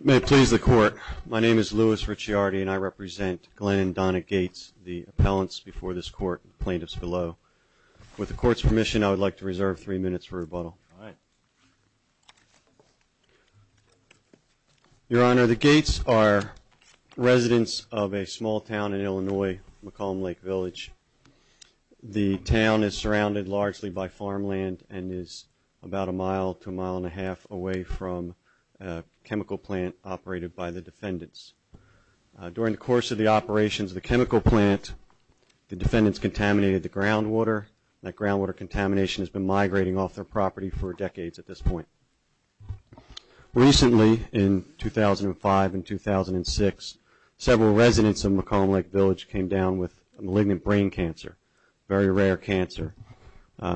May it please the court. My name is Louis Ricciardi and I represent Glenn and Donna Gates, the appellants before this court and the plaintiffs below. With the court's permission, I would like to reserve three minutes for rebuttal. All right. Your Honor, the Gates are residents of a small town in Illinois, McComb Lake Village. The town is surrounded largely by farmland and is about a mile to a mile and a half away from a chemical plant operated by the defendants. During the course of the operations of the chemical plant, the defendants contaminated the groundwater. That groundwater contamination has been migrating off their property for decades at this point. Recently, in 2005 and 2006, several residents of McComb Lake Village came down with malignant brain cancer, very rare cancer,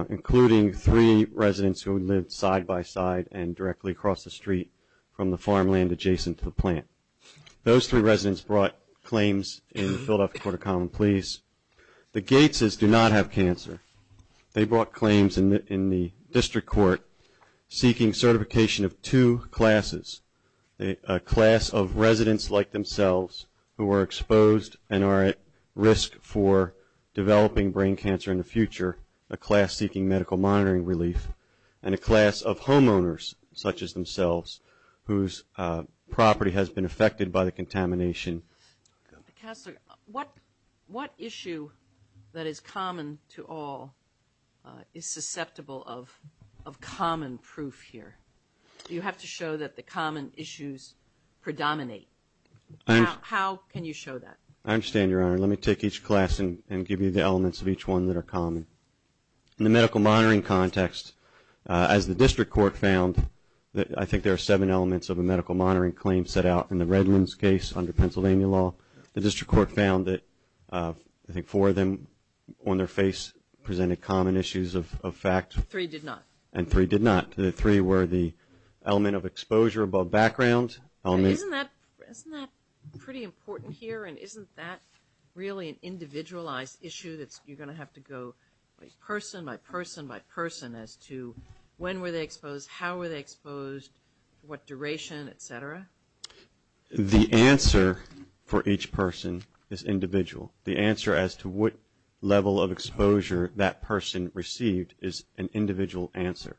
including three residents who lived side by side and directly across the street from the farmland adjacent to the plant. Those three residents brought claims in the Philadelphia Court of Common Pleas. The Gateses do not have cancer. They brought claims in the district court seeking certification of two classes, a class of residents like themselves who are exposed and are at risk for developing brain cancer in the future, a class seeking medical monitoring relief, and a class of homeowners such as themselves whose property has been affected by the contamination. Counselor, what issue that is common to all is susceptible of common proof here? Do you have to show that the common issues predominate? How can you show that? I understand, Your Honor. Let me take each class and give you the elements of each one that are common. In the medical monitoring context, as the district court found, I think there are seven elements of a medical monitoring claim set out in the Redlands case under Pennsylvania law. The district court found that I think four of them on their face presented common issues of fact. Three did not. And three did not. The three were the element of exposure above background. Isn't that pretty important here, and isn't that really an individualized issue that you're going to have to go person by person by person as to when were they exposed, how were they exposed, what duration, et cetera? The answer for each person is individual. The answer as to what level of exposure that person received is an individual answer.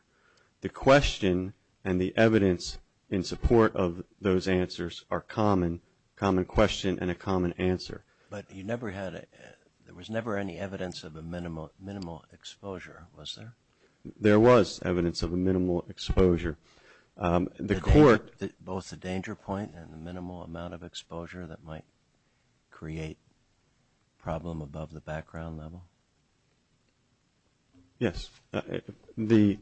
The question and the evidence in support of those answers are common, a common question and a common answer. But you never had a – there was never any evidence of a minimal exposure, was there? There was evidence of a minimal exposure. The court – Both the danger point and the minimal amount of exposure that might create a problem above the background level? Yes. The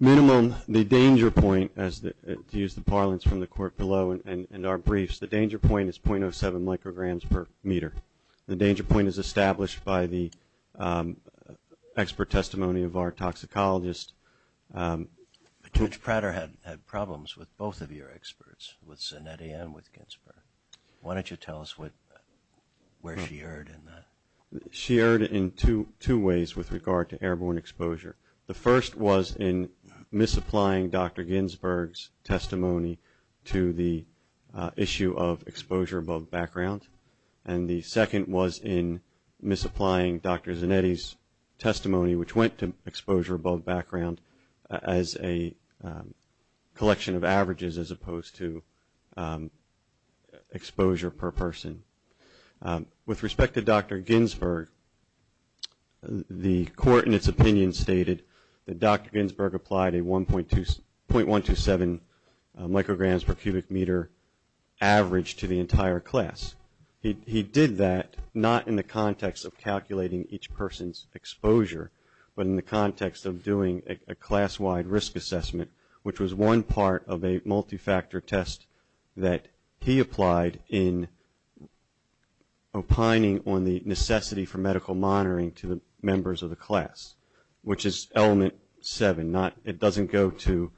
minimum, the danger point, to use the parlance from the court below and our briefs, the danger point is .07 micrograms per meter. The danger point is established by the expert testimony of our toxicologist. Judge Prater had problems with both of your experts, with Zanetti and with Ginsburg. Why don't you tell us where she erred in that? She erred in two ways with regard to airborne exposure. The first was in misapplying Dr. Ginsburg's testimony to the issue of exposure above background, and the second was in misapplying Dr. Zanetti's testimony, which went to exposure above background as a collection of averages as opposed to exposure per person. With respect to Dr. Ginsburg, the court, in its opinion, that Dr. Ginsburg applied a .127 micrograms per cubic meter average to the entire class. He did that not in the context of calculating each person's exposure, but in the context of doing a class-wide risk assessment, which was one part of a multi-factor test that he applied in opining on the necessity for medical monitoring to the members of the class, which is element seven. It doesn't go to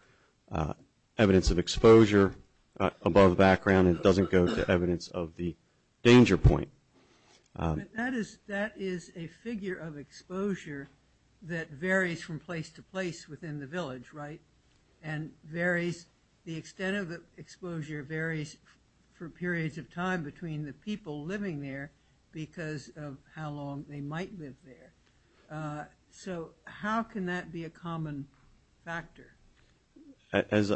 evidence of exposure above background. It doesn't go to evidence of the danger point. That is a figure of exposure that varies from place to place within the village, right? And the extent of the exposure varies for periods of time between the people living there because of how long they might live there. So how can that be a common factor? As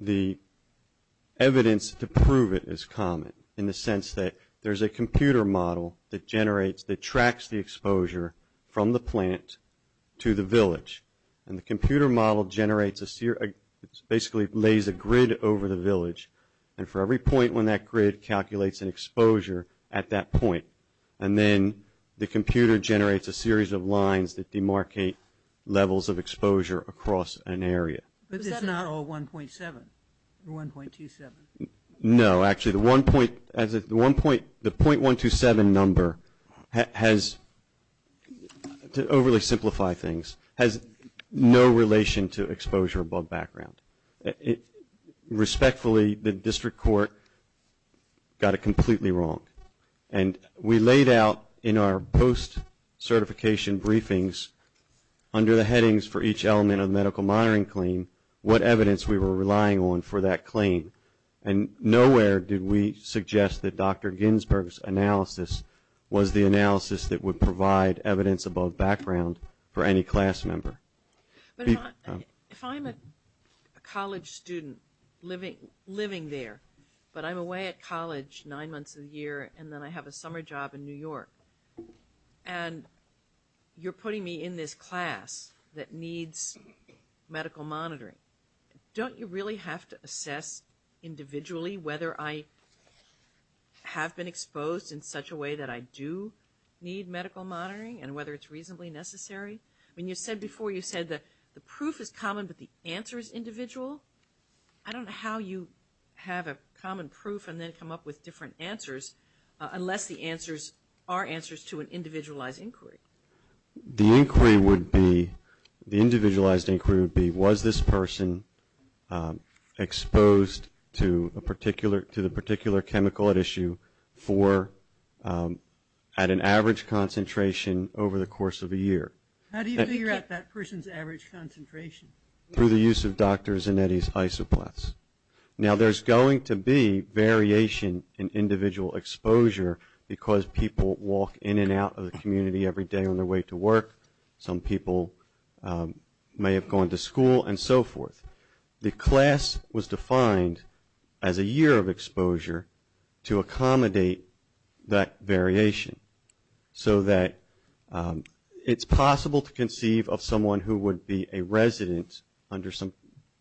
the evidence to prove it is common in the sense that there's a computer model that generates, that tracks the exposure from the plant to the village, and the computer model generates a, basically lays a grid over the village, and for every point when that grid calculates an exposure at that point, and then the computer generates a series of lines that demarcate levels of exposure across an area. But it's not all 1.7 or 1.27. No, actually the 1.27 number has, to overly simplify things, has no relation to exposure above background. Respectfully, the district court got it completely wrong. And we laid out in our post-certification briefings under the headings for each element of the medical monitoring claim what evidence we were relying on for that claim. And nowhere did we suggest that Dr. Ginsburg's analysis was the analysis that would provide evidence above background for any class member. But if I'm a college student living there, but I'm away at college nine months of the year, and then I have a summer job in New York, and you're putting me in this class that needs medical monitoring, don't you really have to assess individually whether I have been exposed in such a way that I do need medical monitoring, and whether it's reasonably necessary? I mean, you said before, you said the proof is common, but the answer is individual. I don't know how you have a common proof and then come up with different answers, unless the answers are answers to an individualized inquiry. The inquiry would be, the individualized inquiry would be, was this person exposed to the particular chemical at issue at an average concentration over the course of a year? How do you figure out that person's average concentration? Through the use of Dr. Zanetti's isoplasts. Now there's going to be variation in individual exposure because people walk in and out of the community every day on their way to work. Some people may have gone to school and so forth. The class was defined as a year of exposure to accommodate that variation, so that it's possible to conceive of someone who would be a resident under some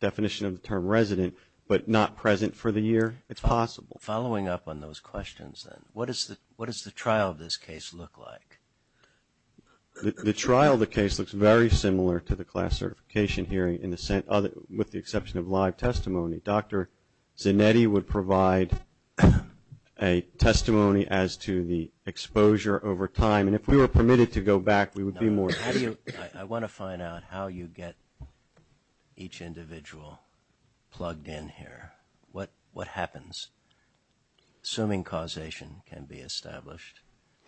definition of the term resident, but not present for the year. It's possible. Following up on those questions then, what does the trial of this case look like? The trial of the case looks very similar to the class certification hearing with the exception of live testimony. Dr. Zanetti would provide a testimony as to the exposure over time. And if we were permitted to go back, we would be more. I want to find out how you get each individual plugged in here. What happens? Assuming causation can be established.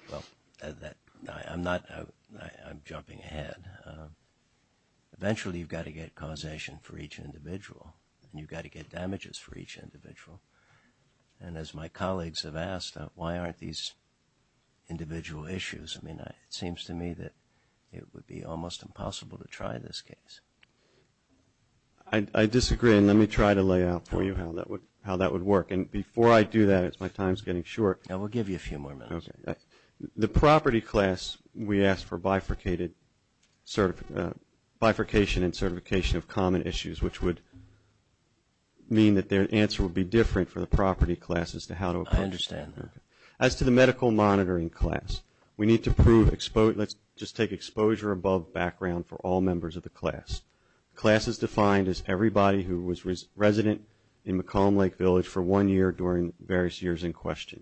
Well, I'm jumping ahead. Eventually you've got to get causation for each individual, and you've got to get damages for each individual. And as my colleagues have asked, why aren't these individual issues? I mean, it seems to me that it would be almost impossible to try this case. I disagree, and let me try to lay out for you how that would work. And before I do that, as my time is getting short. We'll give you a few more minutes. The property class, we asked for bifurcation and certification of common issues, which would mean that their answer would be different for the property class as to how to approach it. I understand. As to the medical monitoring class, we need to prove exposure. Let's just take exposure above background for all members of the class. Class is defined as everybody who was resident in McComb Lake Village for one year during various years in question.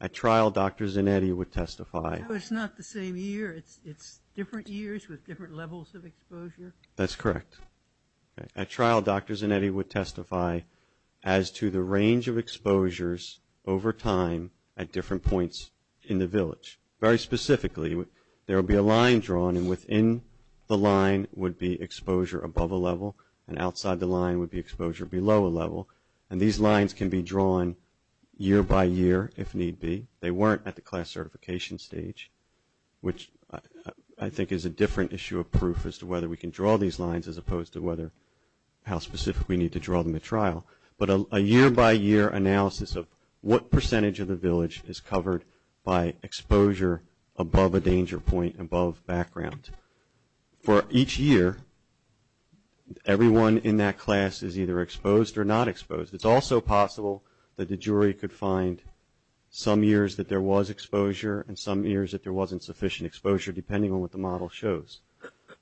At trial, Dr. Zanetti would testify. So it's not the same year. It's different years with different levels of exposure? That's correct. At trial, Dr. Zanetti would testify as to the range of exposures over time at different points in the village. Very specifically, there would be a line drawn, and within the line would be exposure above a level, and outside the line would be exposure below a level. And these lines can be drawn year by year if need be. They weren't at the class certification stage, which I think is a different issue of proof as to whether we can draw these lines as opposed to how specific we need to draw them at trial. But a year-by-year analysis of what percentage of the village is covered by exposure above a danger point above background. For each year, everyone in that class is either exposed or not exposed. It's also possible that the jury could find some years that there was exposure and some years that there wasn't sufficient exposure, depending on what the model shows.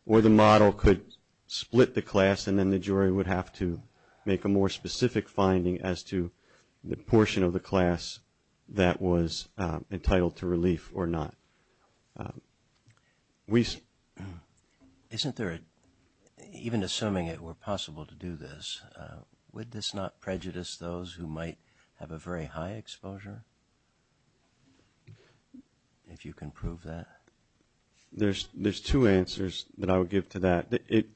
Or the model could split the class, and then the jury would have to make a more specific finding as to the portion of the class that was entitled to relief or not. Isn't there, even assuming it were possible to do this, would this not prejudice those who might have a very high exposure? If you can prove that. There's two answers that I would give to that. It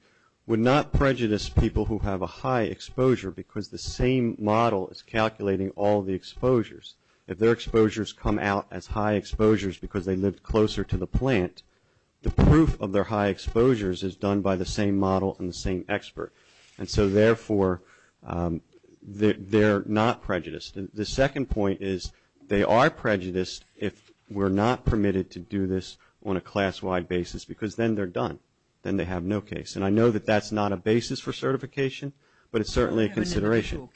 would not prejudice people who have a high exposure because the same model is calculating all the exposures. If their exposures come out as high exposures because they lived closer to the plant, the proof of their high exposures is done by the same model and the same expert. And so, therefore, they're not prejudiced. The second point is they are prejudiced if we're not permitted to do this on a class-wide basis because then they're done. Then they have no case. And I know that that's not a basis for certification, but it's certainly a consideration.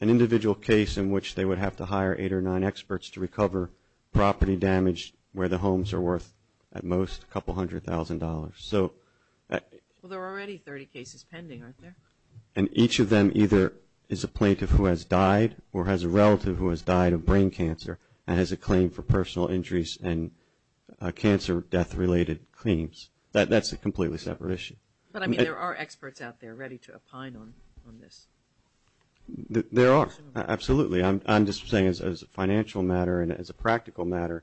An individual case in which they would have to hire eight or nine experts to recover property damage where the homes are worth, at most, a couple hundred thousand dollars. Well, there are already 30 cases pending, aren't there? And each of them either is a plaintiff who has died or has a relative who has died of brain cancer and has a claim for personal injuries and cancer-death-related claims. That's a completely separate issue. But, I mean, there are experts out there ready to opine on this. There are. Absolutely. I'm just saying as a financial matter and as a practical matter,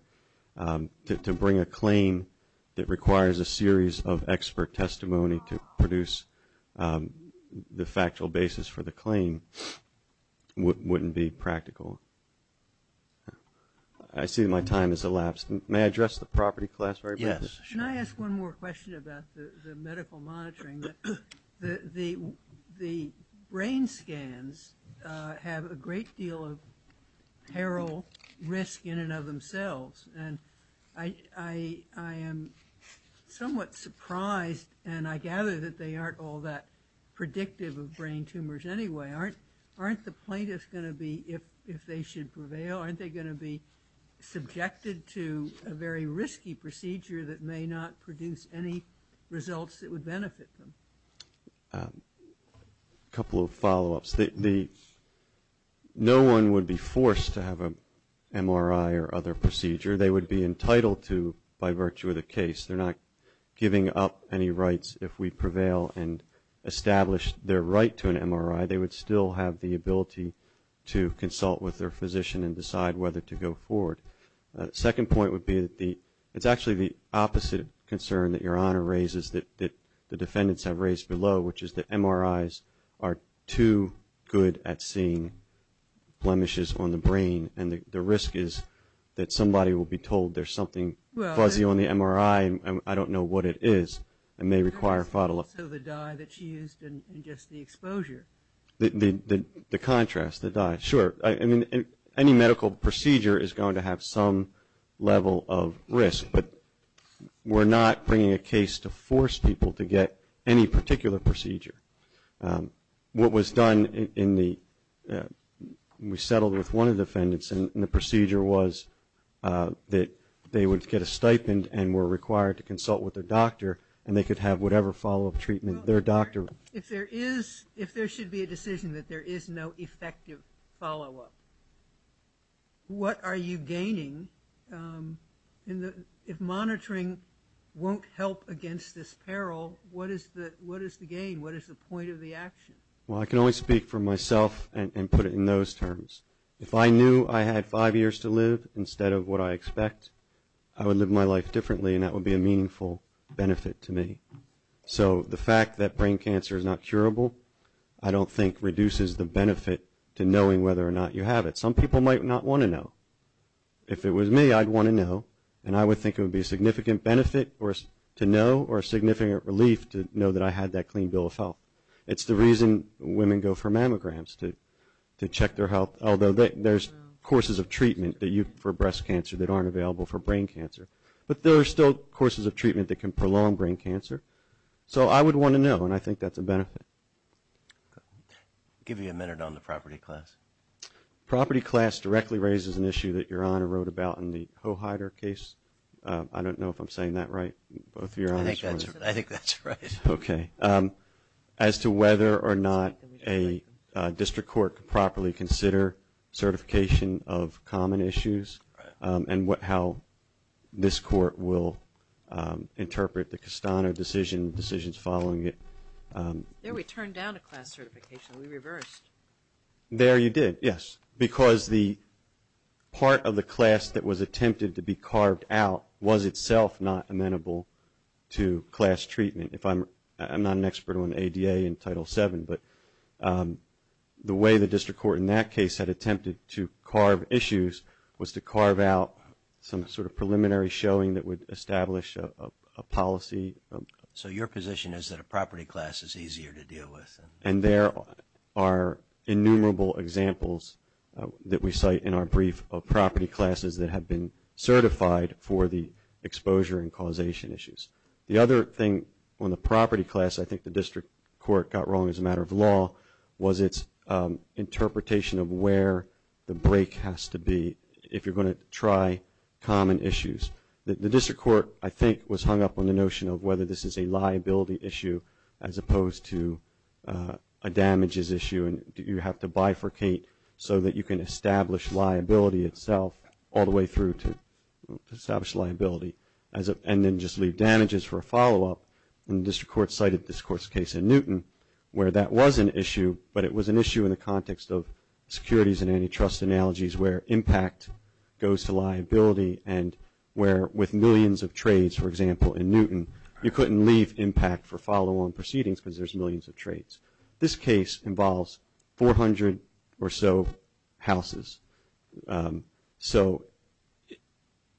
to bring a claim that requires a series of expert testimony to produce the factual basis for the claim wouldn't be practical. I see my time has elapsed. May I address the property class very briefly? Yes. Can I ask one more question about the medical monitoring? The brain scans have a great deal of peril, risk in and of themselves. And I am somewhat surprised, and I gather that they aren't all that predictive of brain tumors anyway. Aren't the plaintiffs going to be, if they should prevail, aren't they going to be subjected to a very risky procedure that may not produce any results that would benefit them? A couple of follow-ups. No one would be forced to have an MRI or other procedure. They would be entitled to by virtue of the case. They're not giving up any rights if we prevail and establish their right to an MRI. They would still have the ability to consult with their physician and decide whether to go forward. The second point would be that it's actually the opposite concern that Your Honor raises that the defendants have raised below, which is that MRIs are too good at seeing blemishes on the brain, and the risk is that somebody will be told there's something fuzzy on the MRI, and I don't know what it is, and may require follow-up. Also the dye that she used and just the exposure. The contrast, the dye. Sure. I mean, any medical procedure is going to have some level of risk, but we're not bringing a case to force people to get any particular procedure. What was done in the, we settled with one of the defendants, and the procedure was that they would get a stipend and were required to consult with their doctor, and they could have whatever follow-up treatment their doctor. If there should be a decision that there is no effective follow-up, what are you gaining? If monitoring won't help against this peril, what is the gain? What is the point of the action? Well, I can only speak for myself and put it in those terms. If I knew I had five years to live instead of what I expect, I would live my life differently, and that would be a meaningful benefit to me. So the fact that brain cancer is not curable, I don't think reduces the benefit to knowing whether or not you have it. Some people might not want to know. If it was me, I'd want to know, and I would think it would be a significant benefit to know or a significant relief to know that I had that clean bill of health. It's the reason women go for mammograms to check their health, although there's courses of treatment for breast cancer that aren't available for brain cancer. But there are still courses of treatment that can prolong brain cancer. So I would want to know, and I think that's a benefit. I'll give you a minute on the property class. Property class directly raises an issue that Your Honor wrote about in the Hoheider case. I don't know if I'm saying that right. I think that's right. Okay. As to whether or not a district court can properly consider certification of common issues and how this court will interpret the Castano decision, decisions following it. There we turned down a class certification. We reversed. There you did, yes, because the part of the class that was attempted to be carved out was itself not amenable to class treatment. I'm not an expert on ADA and Title VII, but the way the district court in that case had attempted to carve issues was to carve out some sort of preliminary showing that would establish a policy. So your position is that a property class is easier to deal with? And there are innumerable examples that we cite in our brief of property classes that have been certified for the exposure and causation issues. The other thing on the property class I think the district court got wrong as a matter of law was its interpretation of where the break has to be if you're going to try common issues. The district court, I think, was hung up on the notion of whether this is a liability issue as opposed to a damages issue and you have to bifurcate so that you can establish liability itself all the way through to establish liability and then just leave damages for a follow-up. And the district court cited this court's case in Newton where that was an issue, but it was an issue in the context of securities and antitrust analogies where impact goes to liability and where with millions of trades, for example, in Newton, you couldn't leave impact for follow-on proceedings because there's millions of trades. This case involves 400 or so houses. So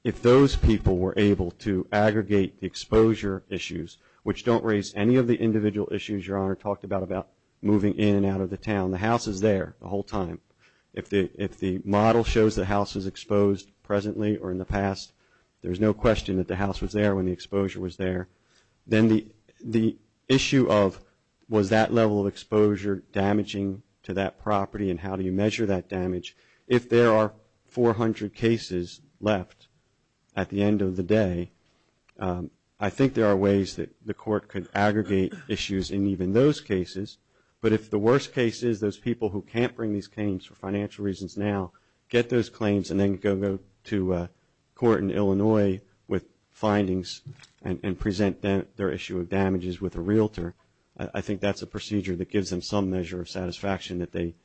if those people were able to aggregate the exposure issues, which don't raise any of the individual issues Your Honor talked about, about moving in and out of the town, the house is there the whole time. If the model shows the house is exposed presently or in the past, there's no question that the house was there when the exposure was there. Then the issue of was that level of exposure damaging to that property and how do you measure that damage? If there are 400 cases left at the end of the day, I think there are ways that the court could aggregate issues in even those cases. But if the worst case is those people who can't bring these claims for financial reasons now, get those claims and then go to court in Illinois with findings and present their issue of damages with a realtor, I think that's a procedure that gives them some measure of satisfaction that they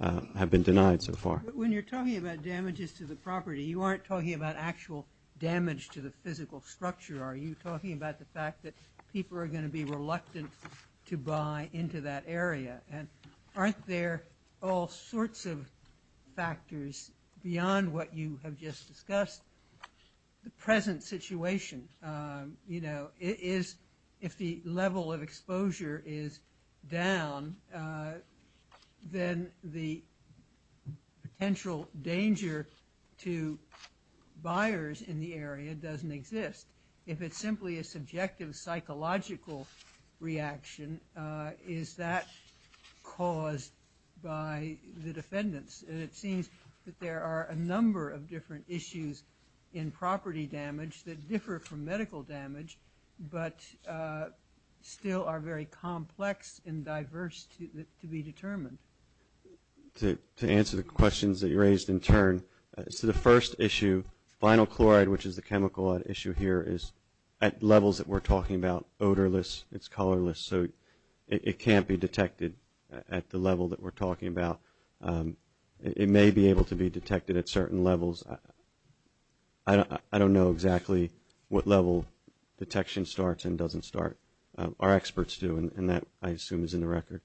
have been denied so far. When you're talking about damages to the property, you aren't talking about actual damage to the physical structure. Are you talking about the fact that people are going to be reluctant to buy into that area? Aren't there all sorts of factors beyond what you have just discussed? The present situation, if the level of exposure is down, then the potential danger to buyers in the area doesn't exist. If it's simply a subjective psychological reaction, is that caused by the defendants? And it seems that there are a number of different issues in property damage that differ from medical damage but still are very complex and diverse to be determined. The first issue, vinyl chloride, which is the chemical issue here, is at levels that we're talking about, odorless, it's colorless, so it can't be detected at the level that we're talking about. It may be able to be detected at certain levels. I don't know exactly what level detection starts and doesn't start. Our experts do, and that, I assume, is in the record.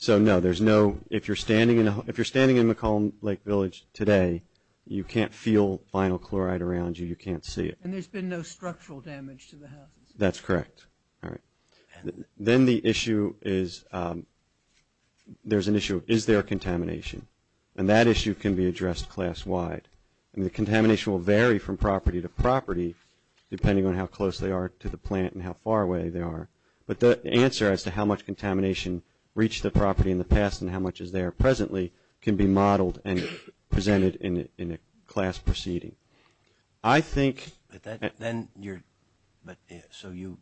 So, no, there's no – if you're standing in McCollum Lake Village today, you can't feel vinyl chloride around you. You can't see it. And there's been no structural damage to the houses? That's correct. All right. Then the issue is – there's an issue of is there contamination? And that issue can be addressed class-wide. And the contamination will vary from property to property, depending on how close they are to the plant and how far away they are. But the answer as to how much contamination reached the property in the past and how much is there presently can be modeled and presented in a class proceeding. I think – But then you're – so you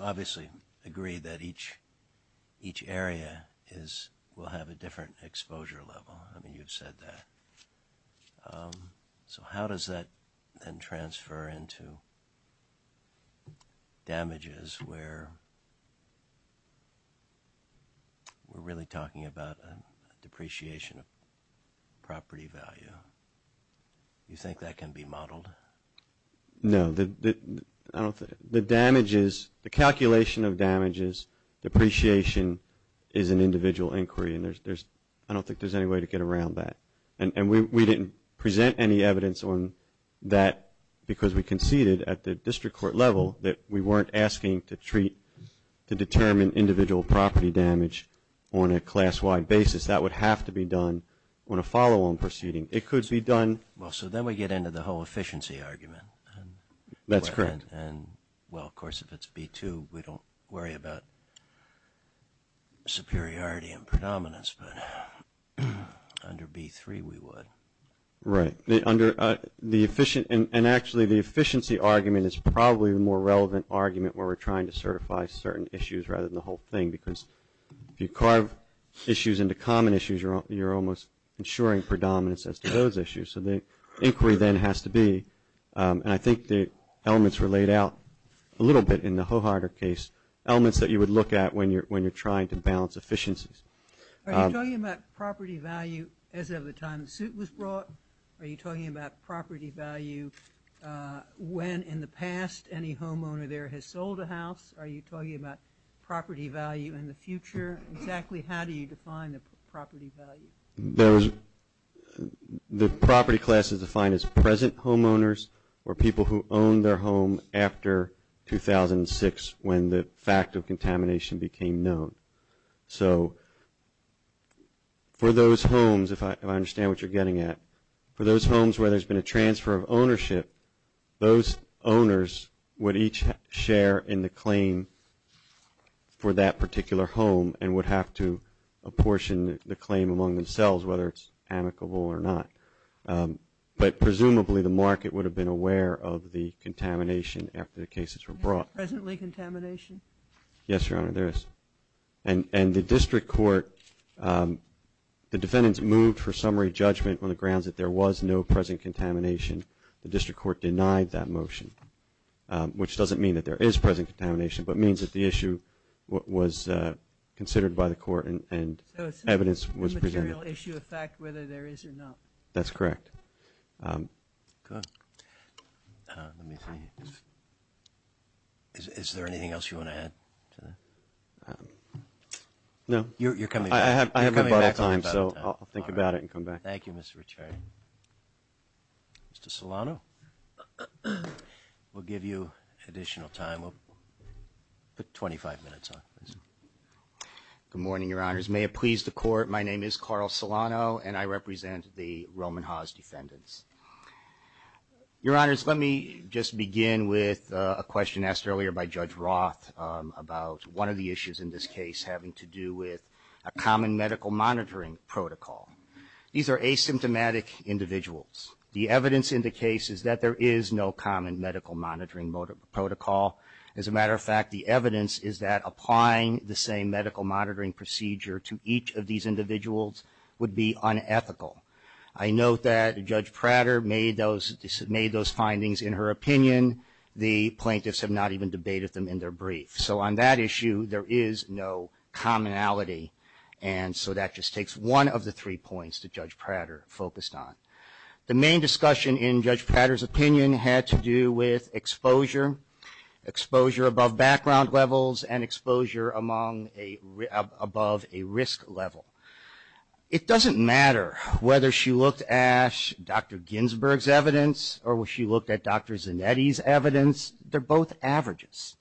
obviously agree that each area is – will have a different exposure level. I mean, you've said that. So how does that then transfer into damages where we're really talking about a depreciation of property value? Do you think that can be modeled? No. The damages – the calculation of damages, depreciation, is an individual inquiry. And there's – I don't think there's any way to get around that. And we didn't present any evidence on that because we conceded at the district court level that we weren't asking to treat – to determine individual property damage on a class-wide basis. That would have to be done on a follow-on proceeding. It could be done – Well, so then we get into the whole efficiency argument. That's correct. And, well, of course, if it's B2, we don't worry about superiority and predominance. But under B3, we would. Right. Under the – and actually the efficiency argument is probably the more relevant argument where we're trying to certify certain issues rather than the whole thing because if you carve issues into common issues, you're almost ensuring predominance as to those issues. So the inquiry then has to be – and I think the elements were laid out a little bit in the Hoharder case, elements that you would look at when you're trying to balance efficiencies. Are you talking about property value as of the time the suit was brought? Are you talking about property value when in the past any homeowner there has sold a house? Are you talking about property value in the future? Exactly how do you define the property value? The property class is defined as present homeowners or people who own their home after 2006 when the fact of contamination became known. So for those homes, if I understand what you're getting at, for those homes where there's been a transfer of ownership, those owners would each share in the claim for that particular home and would have to apportion the claim among themselves whether it's amicable or not. But presumably the market would have been aware of the contamination after the cases were brought. Is there presently contamination? Yes, Your Honor, there is. And the district court – the defendants moved for summary judgment on the grounds that there was no present contamination. The district court denied that motion, which doesn't mean that there is present contamination, but means that the issue was considered by the court and evidence was presented. So it's a material issue of fact whether there is or not. That's correct. Good. Let me see. Is there anything else you want to add to that? No. You're coming back. I have a bottle of time, so I'll think about it and come back. Thank you, Mr. Ricciardi. Mr. Solano, we'll give you additional time. We'll put 25 minutes on. Good morning, Your Honors. May it please the Court, my name is Carl Solano and I represent the Roman Hawes defendants. Your Honors, let me just begin with a question asked earlier by Judge Roth about one of the issues in this case having to do with a common medical monitoring protocol. These are asymptomatic individuals. The evidence in the case is that there is no common medical monitoring protocol. As a matter of fact, the evidence is that applying the same medical monitoring procedure to each of these individuals would be unethical. I note that Judge Prater made those findings in her opinion. The plaintiffs have not even debated them in their brief. So on that issue, there is no commonality, and so that just takes one of the three points that Judge Prater focused on. The main discussion in Judge Prater's opinion had to do with exposure, exposure above background levels, and exposure above a risk level. It doesn't matter whether she looked at Dr. Ginsburg's evidence or she looked at Dr. Zanetti's evidence, they're both averages.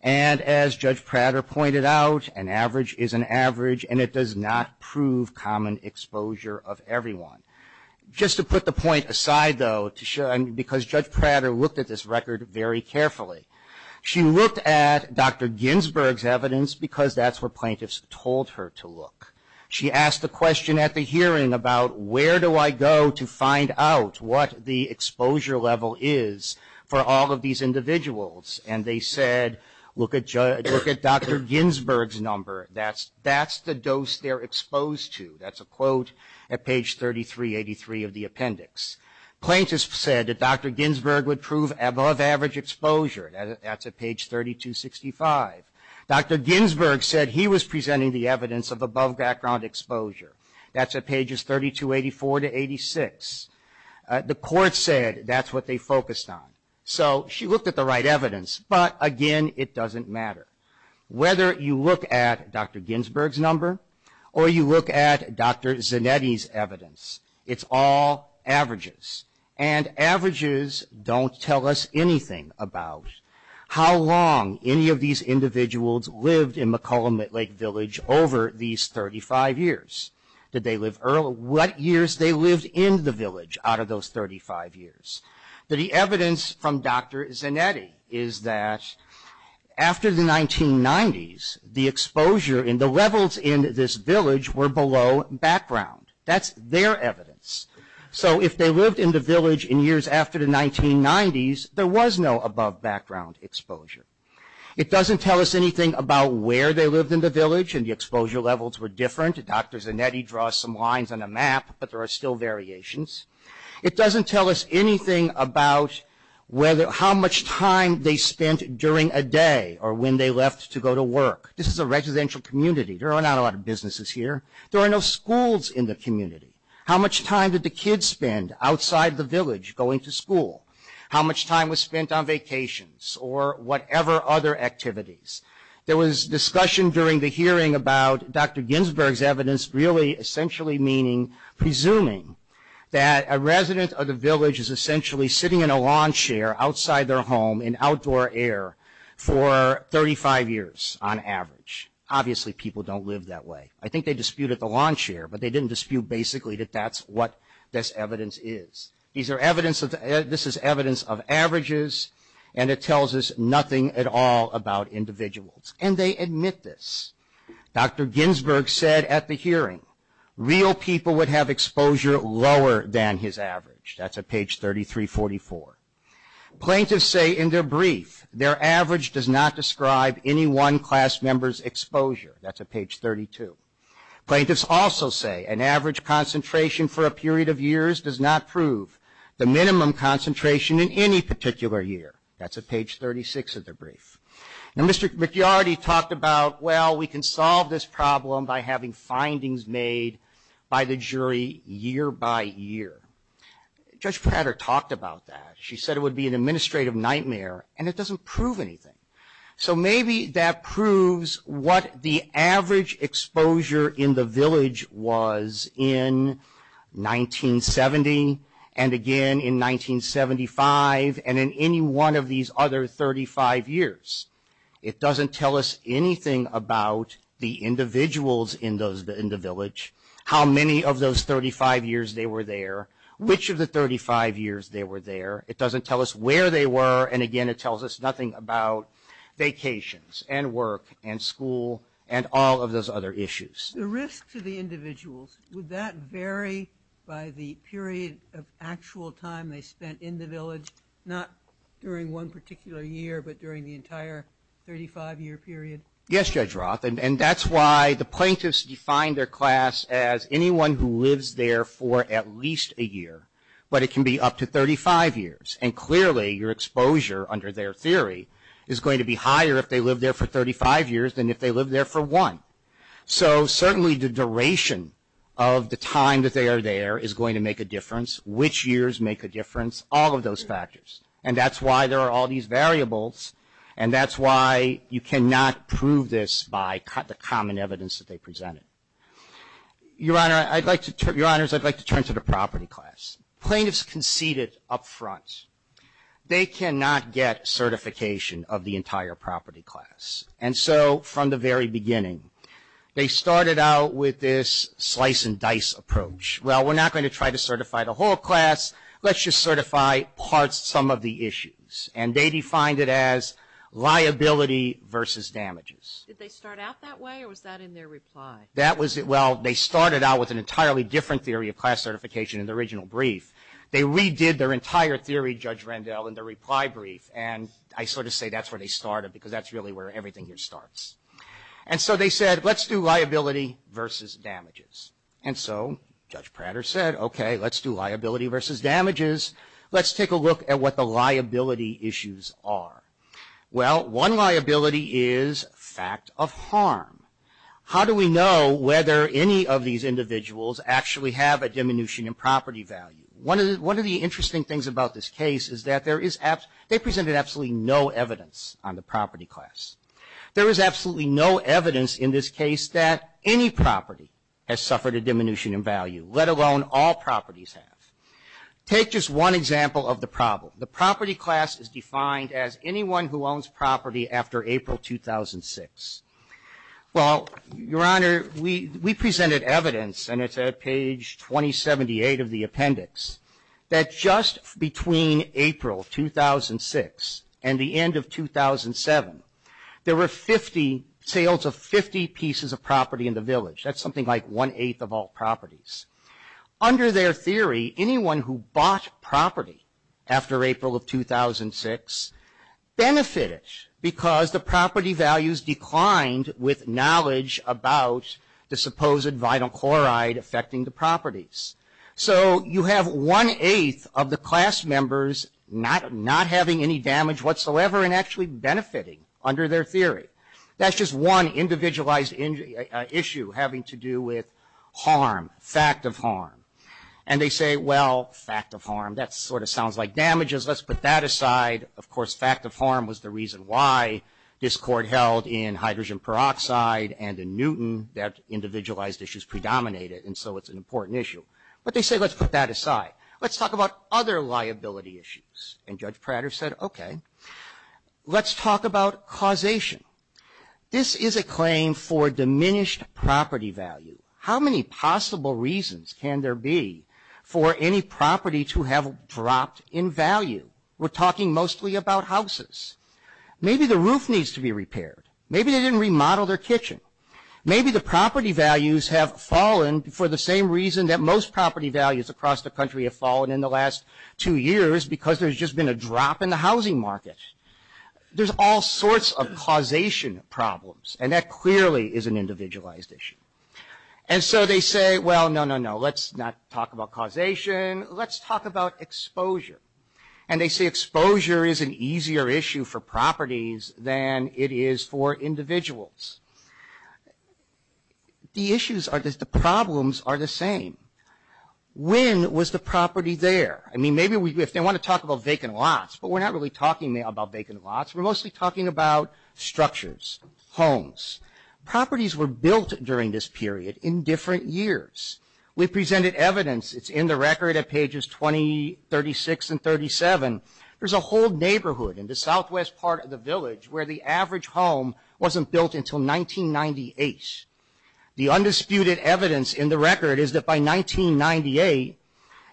And as Judge Prater pointed out, an average is an average, and it does not prove common exposure of everyone. Just to put the point aside, though, because Judge Prater looked at this record very carefully. She looked at Dr. Ginsburg's evidence because that's where plaintiffs told her to look. She asked the question at the hearing about, where do I go to find out what the exposure level is for all of these individuals? And they said, look at Dr. Ginsburg's number. That's the dose they're exposed to. That's a quote at page 3383 of the appendix. Plaintiffs said that Dr. Ginsburg would prove above average exposure. That's at page 3265. Dr. Ginsburg said he was presenting the evidence of above background exposure. That's at pages 3284 to 86. The court said that's what they focused on. So she looked at the right evidence, but, again, it doesn't matter. Whether you look at Dr. Ginsburg's number or you look at Dr. Zanetti's evidence, it's all averages. And averages don't tell us anything about how long any of these individuals lived in McCollum Lake Village over these 35 years. Did they live early? What years they lived in the village out of those 35 years. The evidence from Dr. Zanetti is that after the 1990s, the exposure and the levels in this village were below background. That's their evidence. So if they lived in the village in years after the 1990s, there was no above background exposure. It doesn't tell us anything about where they lived in the village and the exposure levels were different. Dr. Zanetti draws some lines on a map, but there are still variations. It doesn't tell us anything about how much time they spent during a day or when they left to go to work. This is a residential community. There are not a lot of businesses here. There are no schools in the community. How much time did the kids spend outside the village going to school? How much time was spent on vacations or whatever other activities? There was discussion during the hearing about Dr. Ginsburg's evidence really essentially meaning, presuming that a resident of the village is essentially sitting in a lawn chair outside their home in outdoor air for 35 years on average. Obviously people don't live that way. I think they disputed the lawn chair, but they didn't dispute basically that that's what this evidence is. This is evidence of averages, and it tells us nothing at all about individuals. And they admit this. Dr. Ginsburg said at the hearing real people would have exposure lower than his average. That's at page 3344. Plaintiffs say in their brief their average does not describe any one class member's exposure. That's at page 32. Plaintiffs also say an average concentration for a period of years does not prove the minimum concentration in any particular year. That's at page 36 of their brief. Now Mr. McYarty talked about, well, we can solve this problem by having findings made by the jury year by year. Judge Prater talked about that. She said it would be an administrative nightmare, and it doesn't prove anything. So maybe that proves what the average exposure in the village was in 1970, and again in 1975, and in any one of these other 35 years. It doesn't tell us anything about the individuals in the village, how many of those 35 years they were there, which of the 35 years they were there. It doesn't tell us where they were, and again it tells us nothing about vacations and work and school and all of those other issues. The risk to the individuals, would that vary by the period of actual time they spent in the village, not during one particular year, but during the entire 35-year period? Yes, Judge Roth, and that's why the plaintiffs define their class as anyone who lives there for at least a year, but it can be up to 35 years, and clearly your exposure under their theory is going to be higher if they lived there for 35 years than if they lived there for one. So certainly the duration of the time that they are there is going to make a difference, which years make a difference, all of those factors, and that's why there are all these variables, and that's why you cannot prove this by the common evidence that they presented. Your Honor, I'd like to turn to the property class. Plaintiffs conceded up front they cannot get certification of the entire property class, and so from the very beginning they started out with this slice and dice approach. Well, we're not going to try to certify the whole class. Let's just certify parts, some of the issues, and they defined it as liability versus damages. Did they start out that way, or was that in their reply? Well, they started out with an entirely different theory of class certification in the original brief. They redid their entire theory, Judge Rendell, in the reply brief, and I sort of say that's where they started because that's really where everything here starts. And so they said, let's do liability versus damages. And so Judge Prater said, okay, let's do liability versus damages. Let's take a look at what the liability issues are. Well, one liability is fact of harm. How do we know whether any of these individuals actually have a diminution in property value? One of the interesting things about this case is that they presented absolutely no evidence on the property class. There is absolutely no evidence in this case that any property has suffered a diminution in value, let alone all properties have. Take just one example of the problem. The property class is defined as anyone who owns property after April 2006. Well, Your Honor, we presented evidence, and it's at page 2078 of the appendix, that just between April 2006 and the end of 2007, there were 50, sales of 50 pieces of property in the village. That's something like one-eighth of all properties. Under their theory, anyone who bought property after April of 2006 benefited because the property values declined with knowledge about the supposed vital chloride affecting the properties. So you have one-eighth of the class members not having any damage whatsoever and actually benefiting under their theory. That's just one individualized issue having to do with harm, fact of harm. And they say, well, fact of harm, that sort of sounds like damages. Let's put that aside. Of course, fact of harm was the reason why this Court held in hydrogen peroxide and in Newton that individualized issues predominated, and so it's an important issue. But they say, let's put that aside. Let's talk about other liability issues. And Judge Prater said, okay, let's talk about causation. This is a claim for diminished property value. How many possible reasons can there be for any property to have dropped in value? We're talking mostly about houses. Maybe the roof needs to be repaired. Maybe they didn't remodel their kitchen. Maybe the property values have fallen for the same reason that most property values across the country have fallen in the last two years because there's just been a drop in the housing market. There's all sorts of causation problems, and that clearly is an individualized issue. And so they say, well, no, no, no, let's not talk about causation. Let's talk about exposure. And they say exposure is an easier issue for properties than it is for individuals. The issues are just the problems are the same. When was the property there? I mean, maybe if they want to talk about vacant lots, but we're not really talking about vacant lots. We're mostly talking about structures, homes. Properties were built during this period in different years. We presented evidence. It's in the record at pages 20, 36, and 37. There's a whole neighborhood in the southwest part of the village where the average home wasn't built until 1998. The undisputed evidence in the record is that by 1998,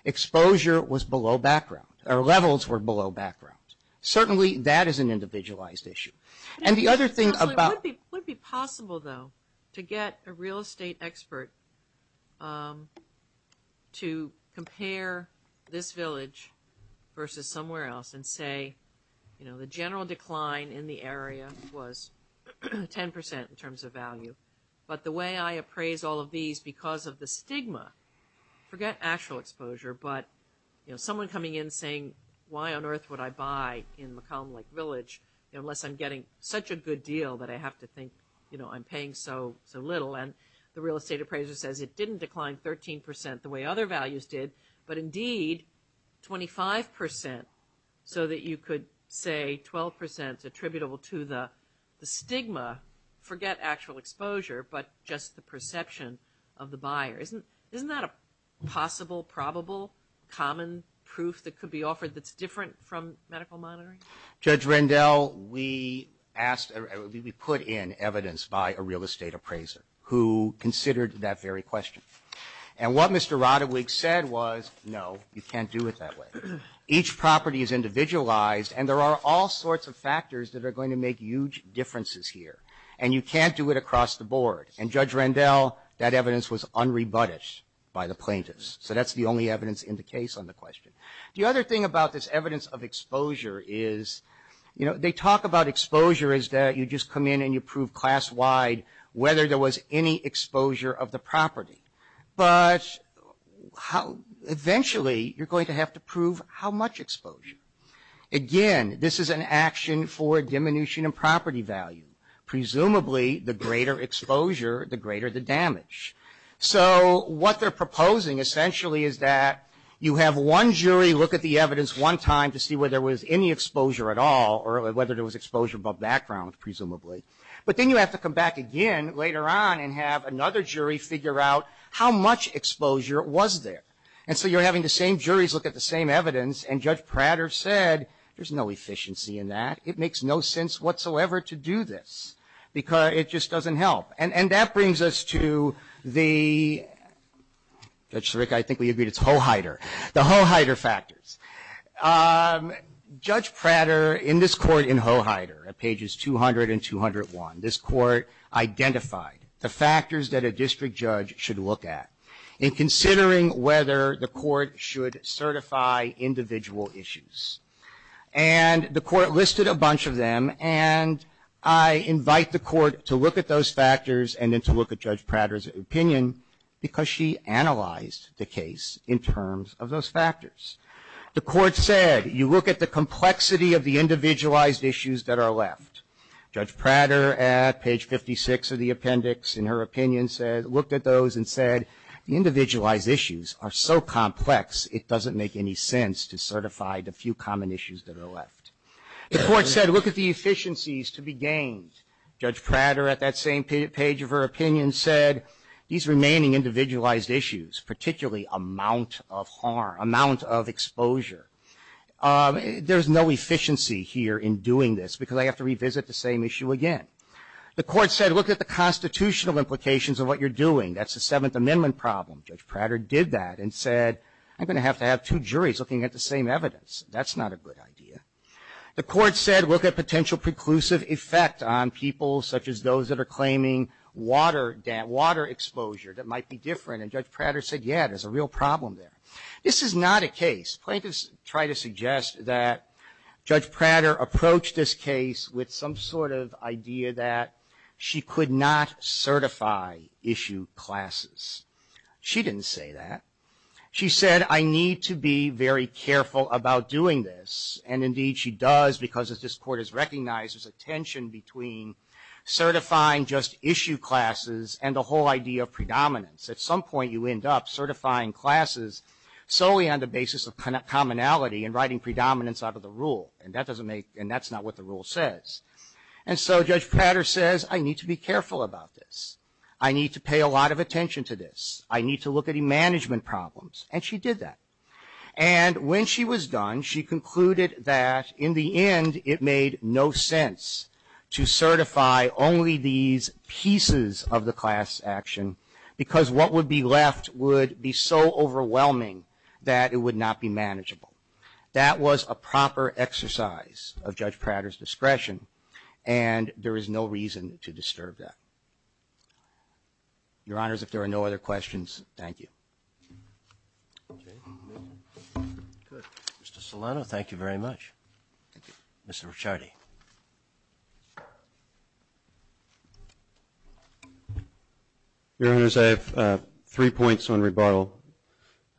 exposure was below background or levels were below background. Certainly that is an individualized issue. It would be possible, though, to get a real estate expert to compare this village versus somewhere else and say, you know, the general decline in the area was 10% in terms of value, but the way I appraise all of these because of the stigma, forget actual exposure, but, you know, someone coming in saying, why on earth would I buy in McComb Lake Village unless I'm getting such a good deal that I have to think, you know, I'm paying so little. And the real estate appraiser says it didn't decline 13% the way other values did, but indeed 25% so that you could say 12% attributable to the stigma, forget actual exposure, but just the perception of the buyer. Isn't that a possible, probable, common proof that could be offered that's different from medical monitoring? Judge Rendell, we put in evidence by a real estate appraiser who considered that very question. And what Mr. Roderick said was, no, you can't do it that way. Each property is individualized, and there are all sorts of factors that are going to make huge differences here, and you can't do it across the board. And Judge Rendell, that evidence was unrebutted by the plaintiffs, so that's the only evidence in the case on the question. The other thing about this evidence of exposure is, you know, they talk about exposure is that you just come in and you prove class-wide whether there was any exposure of the property. But eventually you're going to have to prove how much exposure. Again, this is an action for diminution of property value. Presumably, the greater exposure, the greater the damage. So what they're proposing essentially is that you have one jury look at the evidence one time to see whether there was any exposure at all, or whether there was exposure by background, presumably. But then you have to come back again later on and have another jury figure out how much exposure was there. And so you're having the same juries look at the same evidence, and Judge Prater said, there's no efficiency in that. It makes no sense whatsoever to do this, because it just doesn't help. And that brings us to the, Judge Sirica, I think we agreed it's Hoheider, the Hoheider factors. Judge Prater, in this court in Hoheider, at pages 200 and 201, this court identified the factors that a district judge should look at in considering whether the court should certify individual issues. And the court listed a bunch of them, and I invite the court to look at those factors and then to look at Judge Prater's opinion, because she analyzed the case in terms of those factors. The court said, you look at the complexity of the individualized issues that are left. Judge Prater, at page 56 of the appendix, in her opinion, said, looked at those and said, the individualized issues are so complex, it doesn't make any sense to certify the few common issues that are left. The court said, look at the efficiencies to be gained. Judge Prater, at that same page of her opinion, said, these remaining individualized issues, particularly amount of harm, amount of exposure, there's no efficiency here in doing this, because I have to revisit the same issue again. The court said, look at the constitutional implications of what you're doing. That's a Seventh Amendment problem. Judge Prater did that and said, I'm going to have to have two juries looking at the same evidence. That's not a good idea. The court said, look at potential preclusive effect on people such as those that are claiming water exposure that might be different. And Judge Prater said, yeah, there's a real problem there. This is not a case. I'm going to try to suggest that Judge Prater approached this case with some sort of idea that she could not certify issue classes. She didn't say that. She said, I need to be very careful about doing this. And, indeed, she does, because as this court has recognized, there's a tension between certifying just issue classes and the whole idea of predominance. At some point you end up certifying classes solely on the basis of commonality and writing predominance out of the rule. And that's not what the rule says. And so Judge Prater says, I need to be careful about this. I need to pay a lot of attention to this. I need to look at the management problems. And she did that. And when she was done, she concluded that, in the end, it made no sense to certify only these pieces of the class action, because what would be left would be so overwhelming that it would not be manageable. That was a proper exercise of Judge Prater's discretion. And there is no reason to disturb that. Your Honors, if there are no other questions, thank you. Okay. Good. Mr. Solano, thank you very much. Thank you. Mr. Ricciardi. Your Honors, I have three points on rebuttal.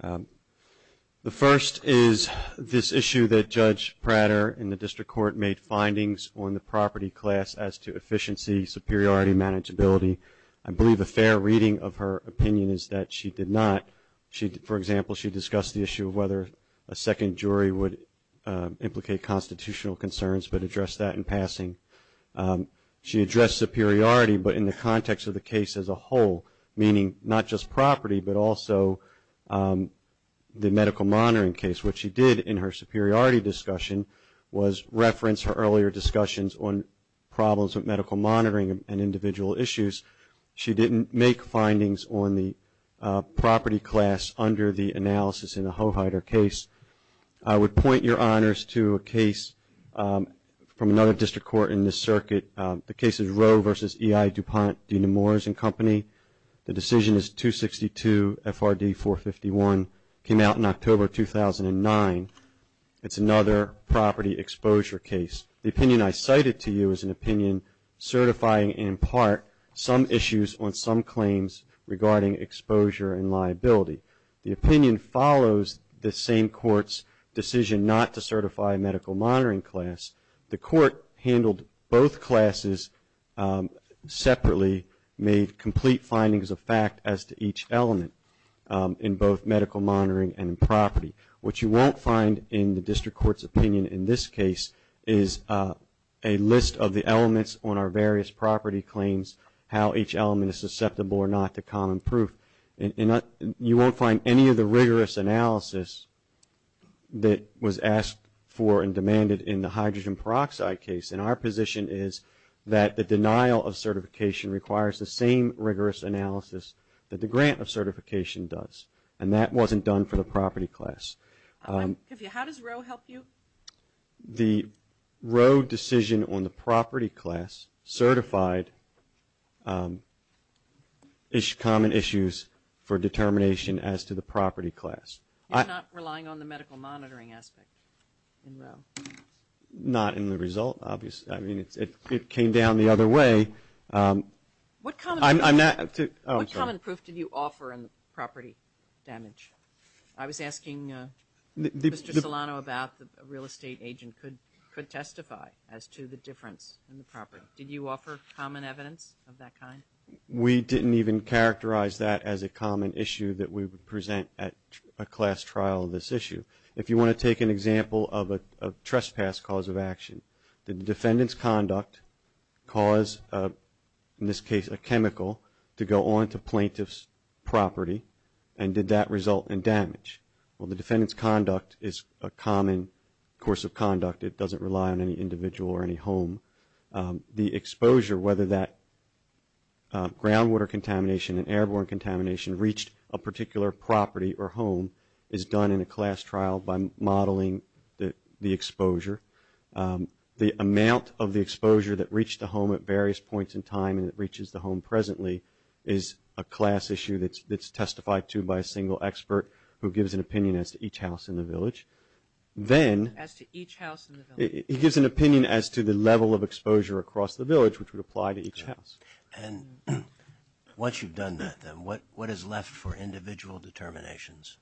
The first is this issue that Judge Prater in the district court made, findings on the property class as to efficiency, superiority, manageability. I believe a fair reading of her opinion is that she did not. For example, she discussed the issue of whether a second jury would implicate constitutional concerns but addressed that in passing. She addressed superiority but in the context of the case as a whole, meaning not just property but also the medical monitoring case. What she did in her superiority discussion was reference her earlier discussions on problems with medical monitoring and individual issues. She didn't make findings on the property class under the analysis in the Hoheider case. I would point your Honors to a case from another district court in this circuit. The case is Roe v. E.I. DuPont, Dena Moore's and Company. The decision is 262 FRD 451, came out in October 2009. It's another property exposure case. The opinion I cited to you is an opinion certifying, in part, some issues on some claims regarding exposure and liability. The opinion follows the same court's decision not to certify a medical monitoring class. The court handled both classes separately, made complete findings of fact as to each element in both medical monitoring and property. What you won't find in the district court's opinion in this case is a list of the elements on our various property claims, how each element is susceptible or not to common proof. You won't find any of the rigorous analysis that was asked for and demanded in the hydrogen peroxide case. Our position is that the denial of certification requires the same rigorous analysis that the grant of certification does. And that wasn't done for the property class. How does Roe help you? The Roe decision on the property class certified common issues for determination as to the property class. You're not relying on the medical monitoring aspect in Roe? Not in the result, obviously. I mean, it came down the other way. What common proof did you offer in the property damage? I was asking Mr. Solano about the real estate agent could testify as to the difference in the property. Did you offer common evidence of that kind? We didn't even characterize that as a common issue that we would present at a class trial of this issue. If you want to take an example of a trespass cause of action, did the defendant's conduct cause, in this case, a chemical to go onto plaintiff's property, and did that result in damage? Well, the defendant's conduct is a common course of conduct. It doesn't rely on any individual or any home. The exposure, whether that groundwater contamination and airborne contamination reached a particular property or home, is done in a class trial by modeling the exposure. The amount of the exposure that reached the home at various points in time and that reaches the home presently is a class issue that's testified to by a single expert who gives an opinion as to each house in the village. As to each house in the village. He gives an opinion as to the level of exposure across the village, which would apply to each house. And once you've done that, then, what is left for individual determinations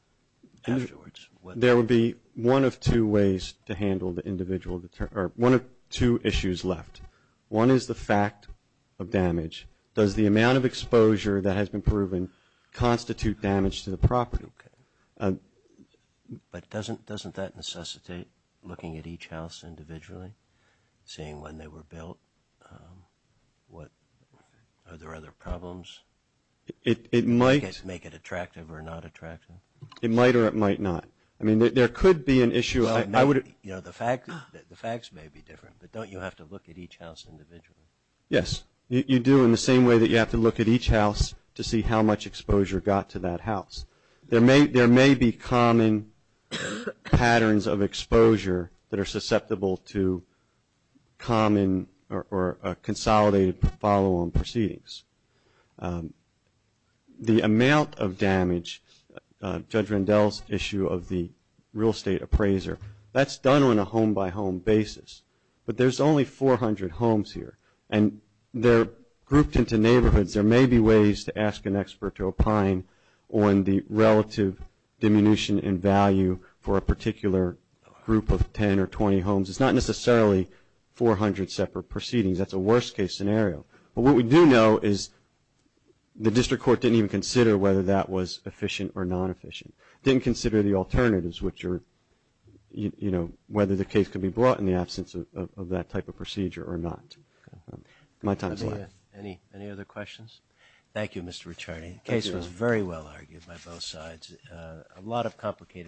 afterwards? There would be one of two ways to handle the individual, or one of two issues left. One is the fact of damage. Does the amount of exposure that has been proven constitute damage to the property? But doesn't that necessitate looking at each house individually, seeing when they were built, are there other problems? It might. Make it attractive or not attractive. It might or it might not. I mean, there could be an issue. The facts may be different, but don't you have to look at each house individually? Yes, you do in the same way that you have to look at each house to see how much exposure got to that house. There may be common patterns of exposure that are susceptible to common or consolidated follow-on proceedings. The amount of damage, Judge Rendell's issue of the real estate appraiser, that's done on a home-by-home basis. But there's only 400 homes here, and they're grouped into neighborhoods. There may be ways to ask an expert to opine on the relative diminution in value for a particular group of 10 or 20 homes. It's not necessarily 400 separate proceedings. That's a worst-case scenario. But what we do know is the district court didn't even consider whether that was efficient or non-efficient, didn't consider the alternatives, which are whether the case could be brought in the absence of that type of procedure or not. My time is up. Thank you. Any other questions? Thank you, Mr. Ricciardi. The case was very well argued by both sides. A lot of complicated cases.